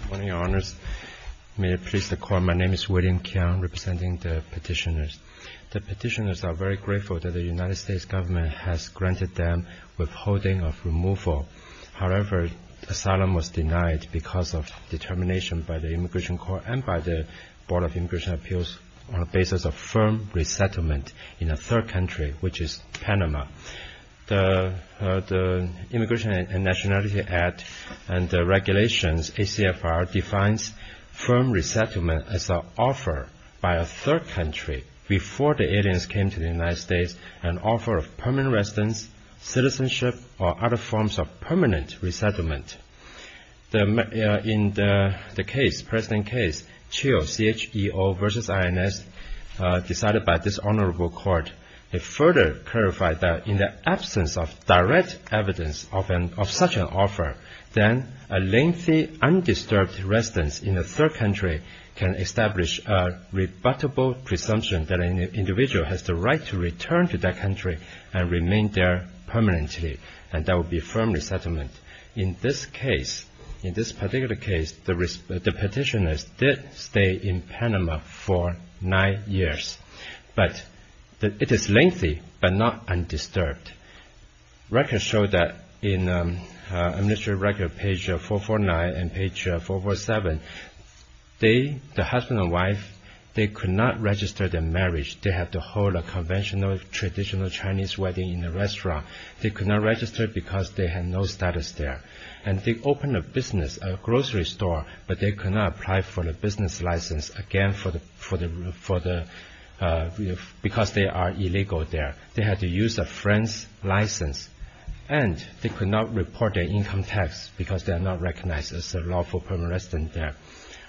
Good morning, Your Honors. May it please the Court, my name is William Keong, representing the petitioners. The petitioners are very grateful that the United States government has granted them withholding of removal. However, asylum was denied because of determination by the Immigration Court and by the Board of Immigration Appeals on the basis of firm resettlement in a third country, which is Panama. The Immigration and Nationality Act and the regulations, ACFR, defines firm resettlement as an offer by a third country before the aliens came to the United States, an offer of permanent residence, citizenship, or other forms of permanent resettlement. In the present case, Cheo, C-H-E-O v. I-N-S, decided by this Honorable Court, it further clarified that in the absence of direct evidence of such an offer, then a lengthy undisturbed residence in a third country can establish a rebuttable presumption that an individual has the right to return to that country and remain there permanently, and that would be firm resettlement. In this case, in this particular case, the petitioners did stay in Panama for nine years, but it is lengthy but not undisturbed. Records show that in Administrative Record page 449 and page 447, they, the husband and wife, they could not register their marriage. They had to hold a conventional, traditional Chinese wedding in a restaurant. They could not register because they had no status there. And they opened a business, a grocery store, but they could not apply for the business license, again, because they are illegal there. They had to use a friend's license, and they could not report their income tax because they are not recognized as a lawful permanent resident there.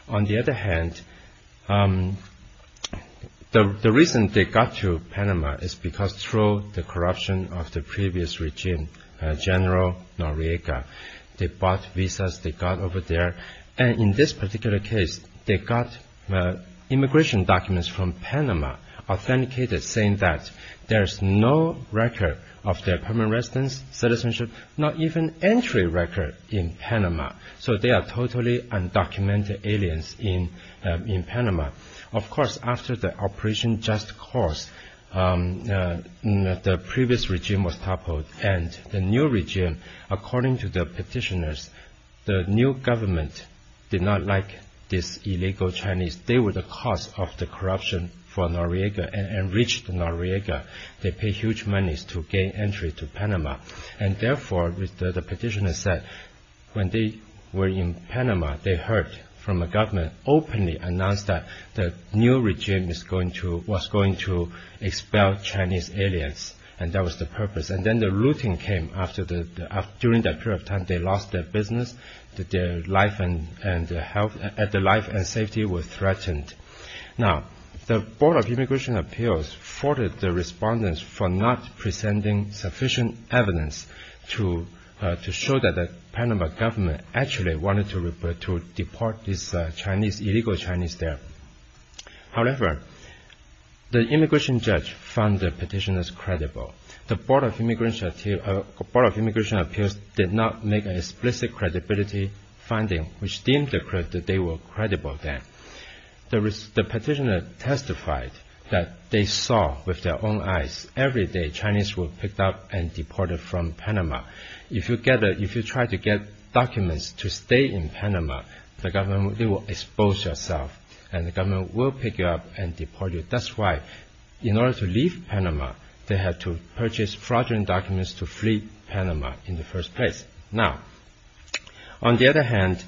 On the other hand, the reason they got to Panama is because through the corruption of the previous regime, General Noriega, they bought visas they got over there. And in this particular case, they got immigration documents from Panama authenticated saying that there is no record of their permanent residence, citizenship, not even entry record in Panama. So they are totally undocumented aliens in Panama. Of course, after the Operation Just Cause, the previous regime was toppled. And the new regime, according to the petitioners, the new government did not like this illegal Chinese. They were the cause of the corruption for Noriega and enriched Noriega. They paid huge monies to gain entry to Panama. And therefore, the petitioners said, when they were in Panama, they heard from the government openly announced that the new regime was going to expel Chinese aliens. And that was the purpose. And then the looting came. During that period of time, they lost their business. Their life and safety were threatened. Now, the Board of Immigration Appeals faulted the respondents for not presenting sufficient evidence to show that the Panama government actually wanted to deport these illegal Chinese there. However, the immigration judge found the petitioners credible. The Board of Immigration Appeals did not make an explicit credibility finding which deemed that they were credible then. The petitioners testified that they saw with their own eyes. Every day, Chinese were picked up and deported from Panama. If you try to get documents to stay in Panama, the government will expose yourself. And the government will pick you up and deport you. That's why, in order to leave Panama, they had to purchase fraudulent documents to flee Panama in the first place. Now, on the other hand,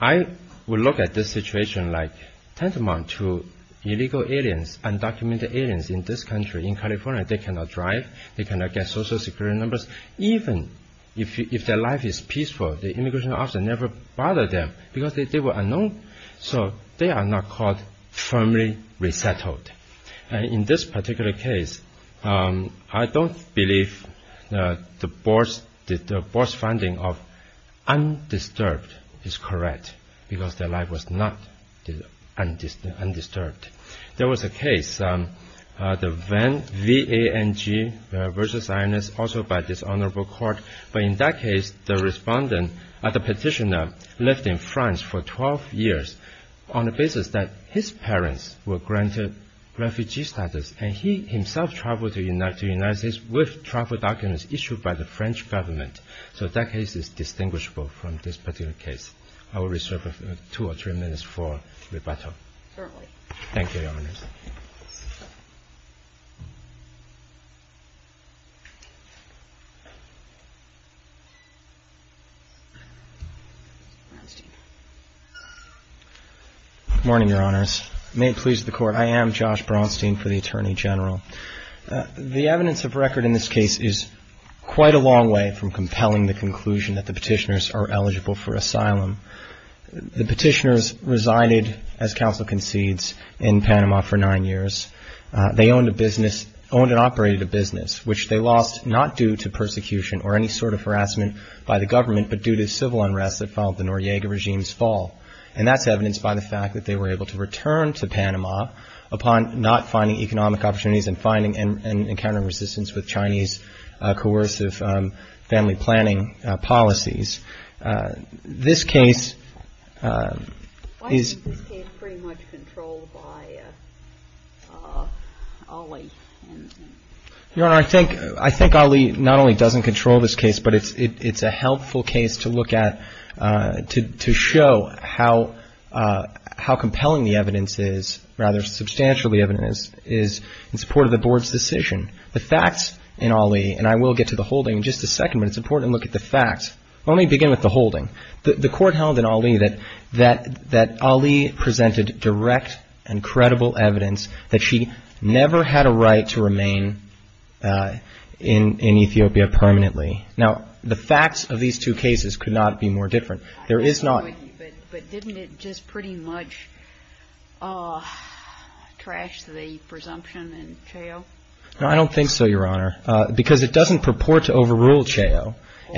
I would look at this situation like tantamount to illegal aliens, undocumented aliens in this country, in California. They cannot drive. They cannot get social security numbers. Even if their life is peaceful, the immigration officer never bothered them because they were unknown. So they are not called firmly resettled. In this particular case, I don't believe the board's finding of undisturbed is correct because their life was not undisturbed. There was a case, the VANG, V-A-N-G, also by dishonorable court. But in that case, the petitioner lived in France for 12 years on the basis that his parents were granted refugee status. And he himself traveled to the United States with travel documents issued by the French government. So that case is distinguishable from this particular case. I will reserve two or three minutes for rebuttal. Certainly. Thank you, Your Honors. Good morning, Your Honors. May it please the Court. I am Josh Braunstein for the Attorney General. The evidence of record in this case is quite a long way from compelling the conclusion that the petitioners are eligible for asylum. The petitioners resided, as counsel concedes, in Panama for nine years. They owned a business, owned and operated a business, which they lost not due to persecution or any sort of harassment by the government, but due to civil unrest that followed the Noriega regime's fall. And that's evidenced by the fact that they were able to return to Panama upon not finding economic opportunities and finding and encountering resistance with Chinese coercive family planning policies. This case is... Why is this case pretty much controlled by Ali? Your Honor, I think Ali not only doesn't control this case, but it's a helpful case to look at to show how compelling the evidence is, rather substantial the evidence is, in support of the Board's decision. The facts in Ali, and I will get to the whole thing in just a second, but it's important to look at the facts. Let me begin with the holding. The court held in Ali that Ali presented direct and credible evidence that she never had a right to remain in Ethiopia permanently. Now, the facts of these two cases could not be more different. There is not... But didn't it just pretty much trash the presumption in Cheo? No, I don't think so, Your Honor. Because it doesn't purport to overrule Cheo. But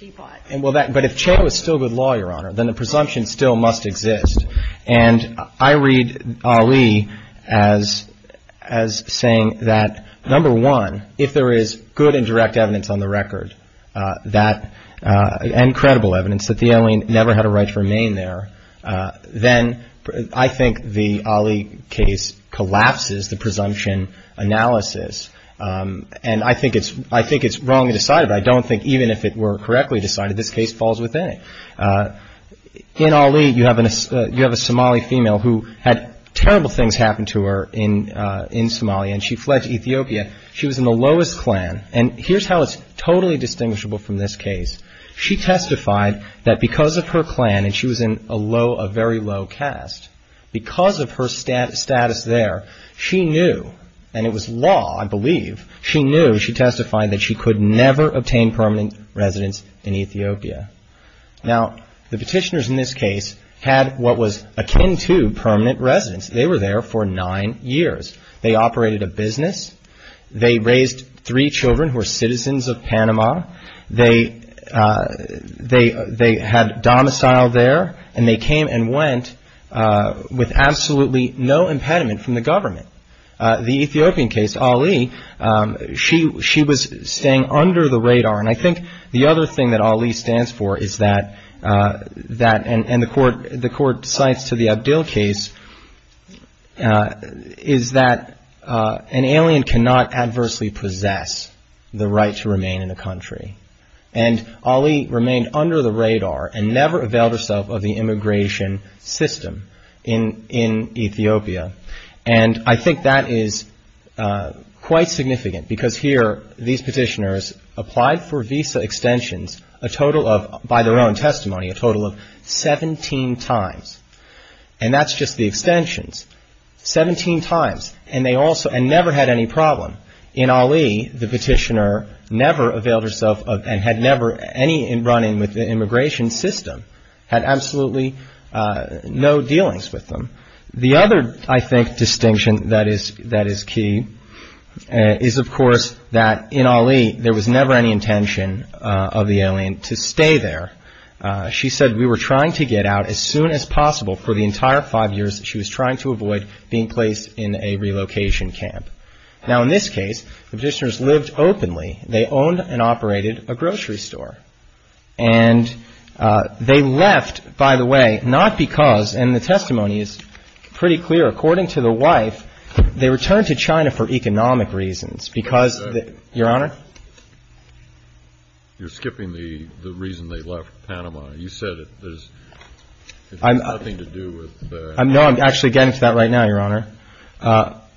if Cheo is still good law, Your Honor, then the presumption still must exist. And I read Ali as saying that, number one, if there is good and direct evidence on the record, and credible evidence, that the alien never had a right to remain there, then I think the Ali case collapses the presumption analysis. And I think it's wrongly decided. I don't think even if it were correctly decided, this case falls within it. In Ali, you have a Somali female who had terrible things happen to her in Somalia, and she fled to Ethiopia. She was in the lowest clan. And here's how it's totally distinguishable from this case. She testified that because of her clan, and she was in a very low caste, because of her status there, she knew, and it was law, I believe, she knew, she testified that she could never obtain permanent residence in Ethiopia. Now, the petitioners in this case had what was akin to permanent residence. They were there for nine years. They operated a business. They raised three children who were citizens of Panama. They had domicile there, and they came and went with absolutely no impediment from the government. The Ethiopian case, Ali, she was staying under the radar. And I think the other thing that Ali stands for is that, and the court cites to the Abdil case, is that an alien cannot adversely possess the right to remain in a country. And Ali remained under the radar and never availed herself of the immigration system in Ethiopia. And I think that is quite significant because here these petitioners applied for visa extensions a total of, by their own testimony, a total of 17 times. And that's just the extensions, 17 times. And they also, and never had any problem. In Ali, the petitioner never availed herself of, and had never any run-in with the immigration system, had absolutely no dealings with them. The other, I think, distinction that is key is, of course, that in Ali, there was never any intention of the alien to stay there. She said, we were trying to get out as soon as possible for the entire five years that she was trying to avoid being placed in a relocation camp. Now, in this case, the petitioners lived openly. They owned and operated a grocery store. And they left, by the way, not because, and the testimony is pretty clear, according to the wife, they returned to China for economic reasons. Because, Your Honor? You're skipping the reason they left Panama. You said that there's nothing to do with that. No, I'm actually getting to that right now, Your Honor.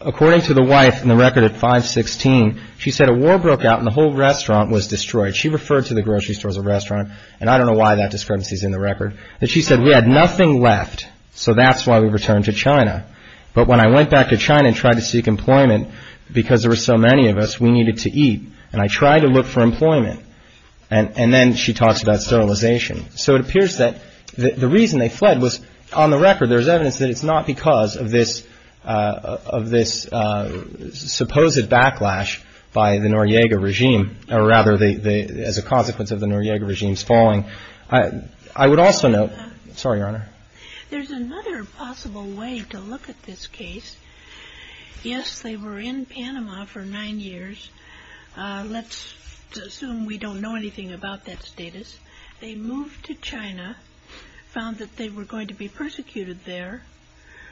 According to the wife, in the record at 516, she said a war broke out and the whole restaurant was destroyed. She referred to the grocery store as a restaurant, and I don't know why that discrepancy is in the record. But she said, we had nothing left, so that's why we returned to China. But when I went back to China and tried to seek employment, because there were so many of us, we needed to eat, and I tried to look for employment. And then she talks about sterilization. So it appears that the reason they fled was, on the record, there's evidence that it's not because of this supposed backlash by the Noriega regime, or rather as a consequence of the Noriega regime's falling. I would also note, sorry, Your Honor. There's another possible way to look at this case. Yes, they were in Panama for nine years. Let's assume we don't know anything about that status. They moved to China, found that they were going to be persecuted there.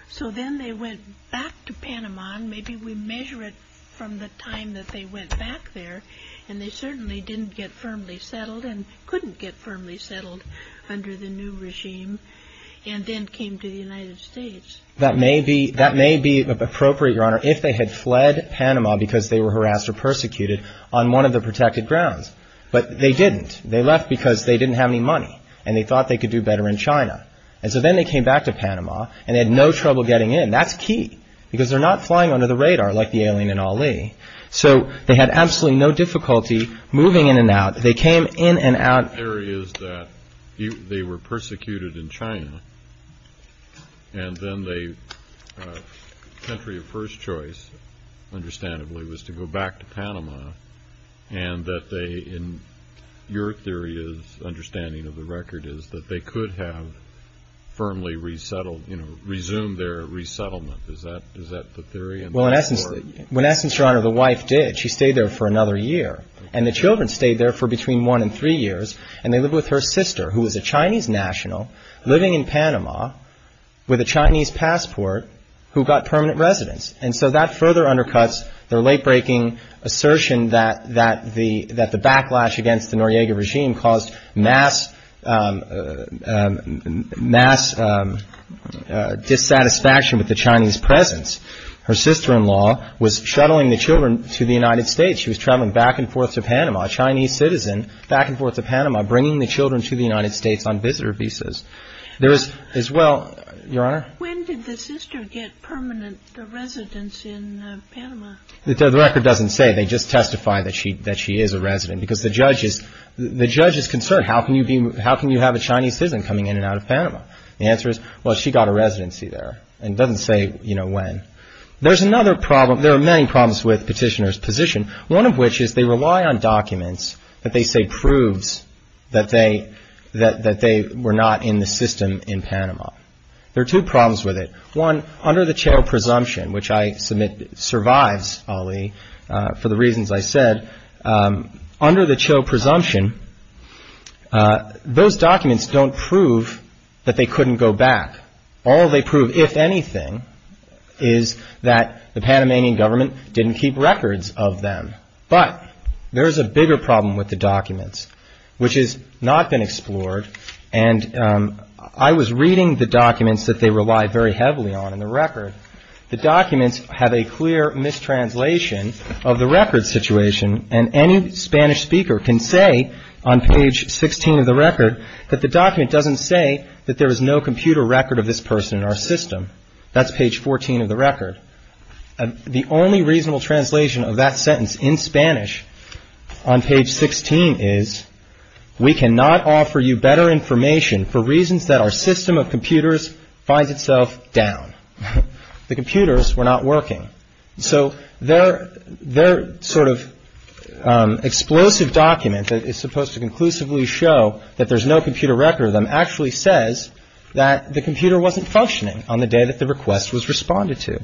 So then they went back to Panama, and maybe we measure it from the time that they went back there, and they certainly didn't get firmly settled, and couldn't get firmly settled under the new regime, and then came to the United States. That may be appropriate, Your Honor, if they had fled Panama because they were harassed or persecuted on one of the protected grounds, but they didn't. They left because they didn't have any money, and they thought they could do better in China. And so then they came back to Panama, and they had no trouble getting in. That's key, because they're not flying under the radar like the alien in Ali. So they had absolutely no difficulty moving in and out. My theory is that they were persecuted in China, and then the country of first choice, understandably, was to go back to Panama, and that they, in your theory's understanding of the record, is that they could have firmly resettled, you know, resumed their resettlement. Is that the theory? Well, in essence, Your Honor, the wife did. She stayed there for another year, and the children stayed there for between one and three years, and they lived with her sister, who was a Chinese national, living in Panama with a Chinese passport who got permanent residence. And so that further undercuts their late-breaking assertion that the backlash against the Noriega regime caused mass dissatisfaction with the Chinese presence. Her sister-in-law was shuttling the children to the United States. She was traveling back and forth to Panama, a Chinese citizen back and forth to Panama, bringing the children to the United States on visitor visas. There is, as well, Your Honor? When did the sister get permanent residence in Panama? The record doesn't say. They just testify that she is a resident, because the judge is concerned. How can you have a Chinese citizen coming in and out of Panama? The answer is, well, she got a residency there. It doesn't say, you know, when. There's another problem. There are many problems with petitioners' position, one of which is they rely on documents that they say proves that they were not in the system in Panama. There are two problems with it. One, under the Chao presumption, which I submit survives, Ali, for the reasons I said, under the Chao presumption, those documents don't prove that they couldn't go back. All they prove, if anything, is that the Panamanian government didn't keep records of them. But there is a bigger problem with the documents, which has not been explored. And I was reading the documents that they rely very heavily on in the record. The documents have a clear mistranslation of the record situation, and any Spanish speaker can say on page 16 of the record that the document doesn't say that there is no computer record of this person in our system. That's page 14 of the record. The only reasonable translation of that sentence in Spanish on page 16 is, we cannot offer you better information for reasons that our system of computers finds itself down. The computers were not working. So their sort of explosive document that is supposed to conclusively show that there's no computer record of them actually says that the computer wasn't functioning on the day that the request was responded to.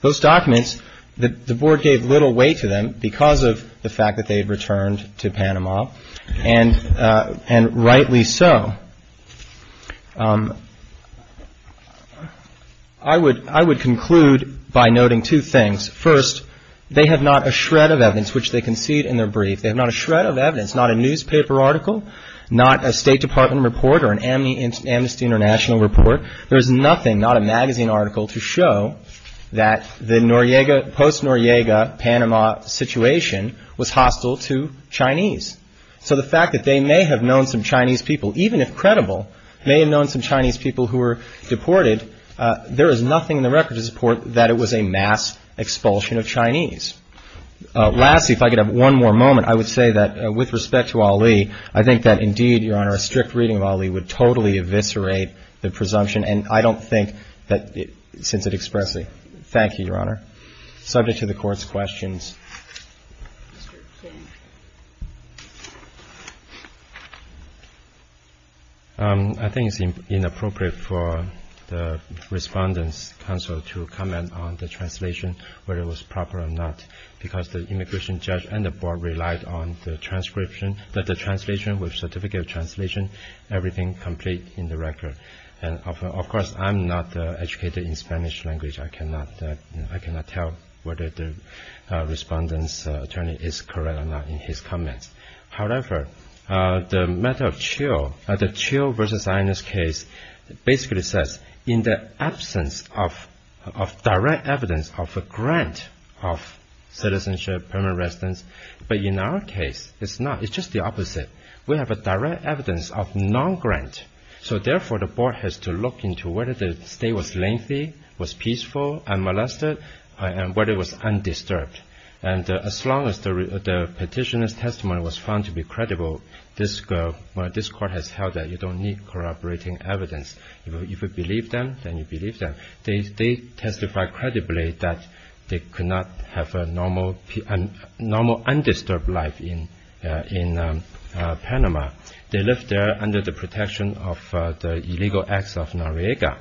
Those documents, the Board gave little weight to them because of the fact that they had returned to Panama, and rightly so. I would conclude by noting two things. First, they have not a shred of evidence, which they concede in their brief. They have not a shred of evidence, not a newspaper article, not a State Department report or an Amnesty International report. There is nothing, not a magazine article, to show that the post-Noriega Panama situation was hostile to Chinese. So the fact that they may have known some Chinese people, even if credible, may have known some Chinese people who were deported, there is nothing in the record to support that it was a mass expulsion of Chinese. Lastly, if I could have one more moment, I would say that with respect to Ali, I think that indeed, Your Honor, a strict reading of Ali would totally eviscerate the presumption, and I don't think that since it expressly. Thank you, Your Honor. Subject to the Court's questions. I think it's inappropriate for the Respondent's counsel to comment on the translation, whether it was proper or not, because the immigration judge and the board relied on the transcription, that the translation with certificate of translation, everything complete in the record. And of course, I'm not educated in Spanish language. I cannot tell whether the Respondent's attorney is correct or not in his comments. However, the matter of Chiu, the Chiu v. Sinus case, basically says, in the absence of direct evidence of a grant of citizenship, permanent residence, but in our case, it's not. It's just the opposite. We have a direct evidence of non-grant. So therefore, the board has to look into whether the stay was lengthy, was peaceful, unmolested, and whether it was undisturbed. And as long as the petitioner's testimony was found to be credible, this Court has held that you don't need corroborating evidence. If you believe them, then you believe them. They testified credibly that they could not have a normal undisturbed life in Panama. They lived there under the protection of the illegal acts of Noriega.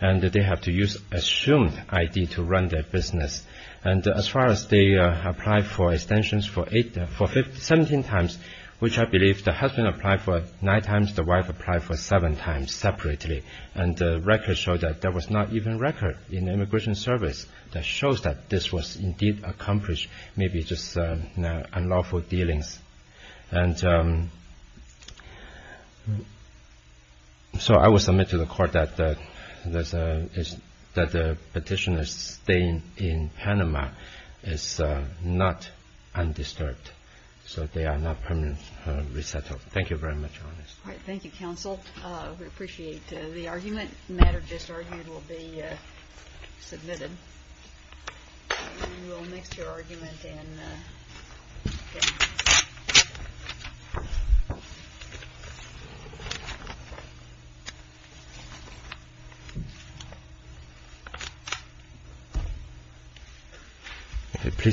And they had to use assumed ID to run their business. And as far as they applied for extensions 17 times, which I believe the husband applied for nine times, the wife applied for seven times separately. And the record showed that there was not even a record in the Immigration Service that shows that this was indeed accomplished, maybe just unlawful dealings. And so I will submit to the Court that the petitioner's stay in Panama is not undisturbed. So they are not permanently resettled. Thank you very much, Your Honor. All right. Thank you, counsel. We appreciate the argument. The matter just argued will be submitted. And we'll mix your argument in.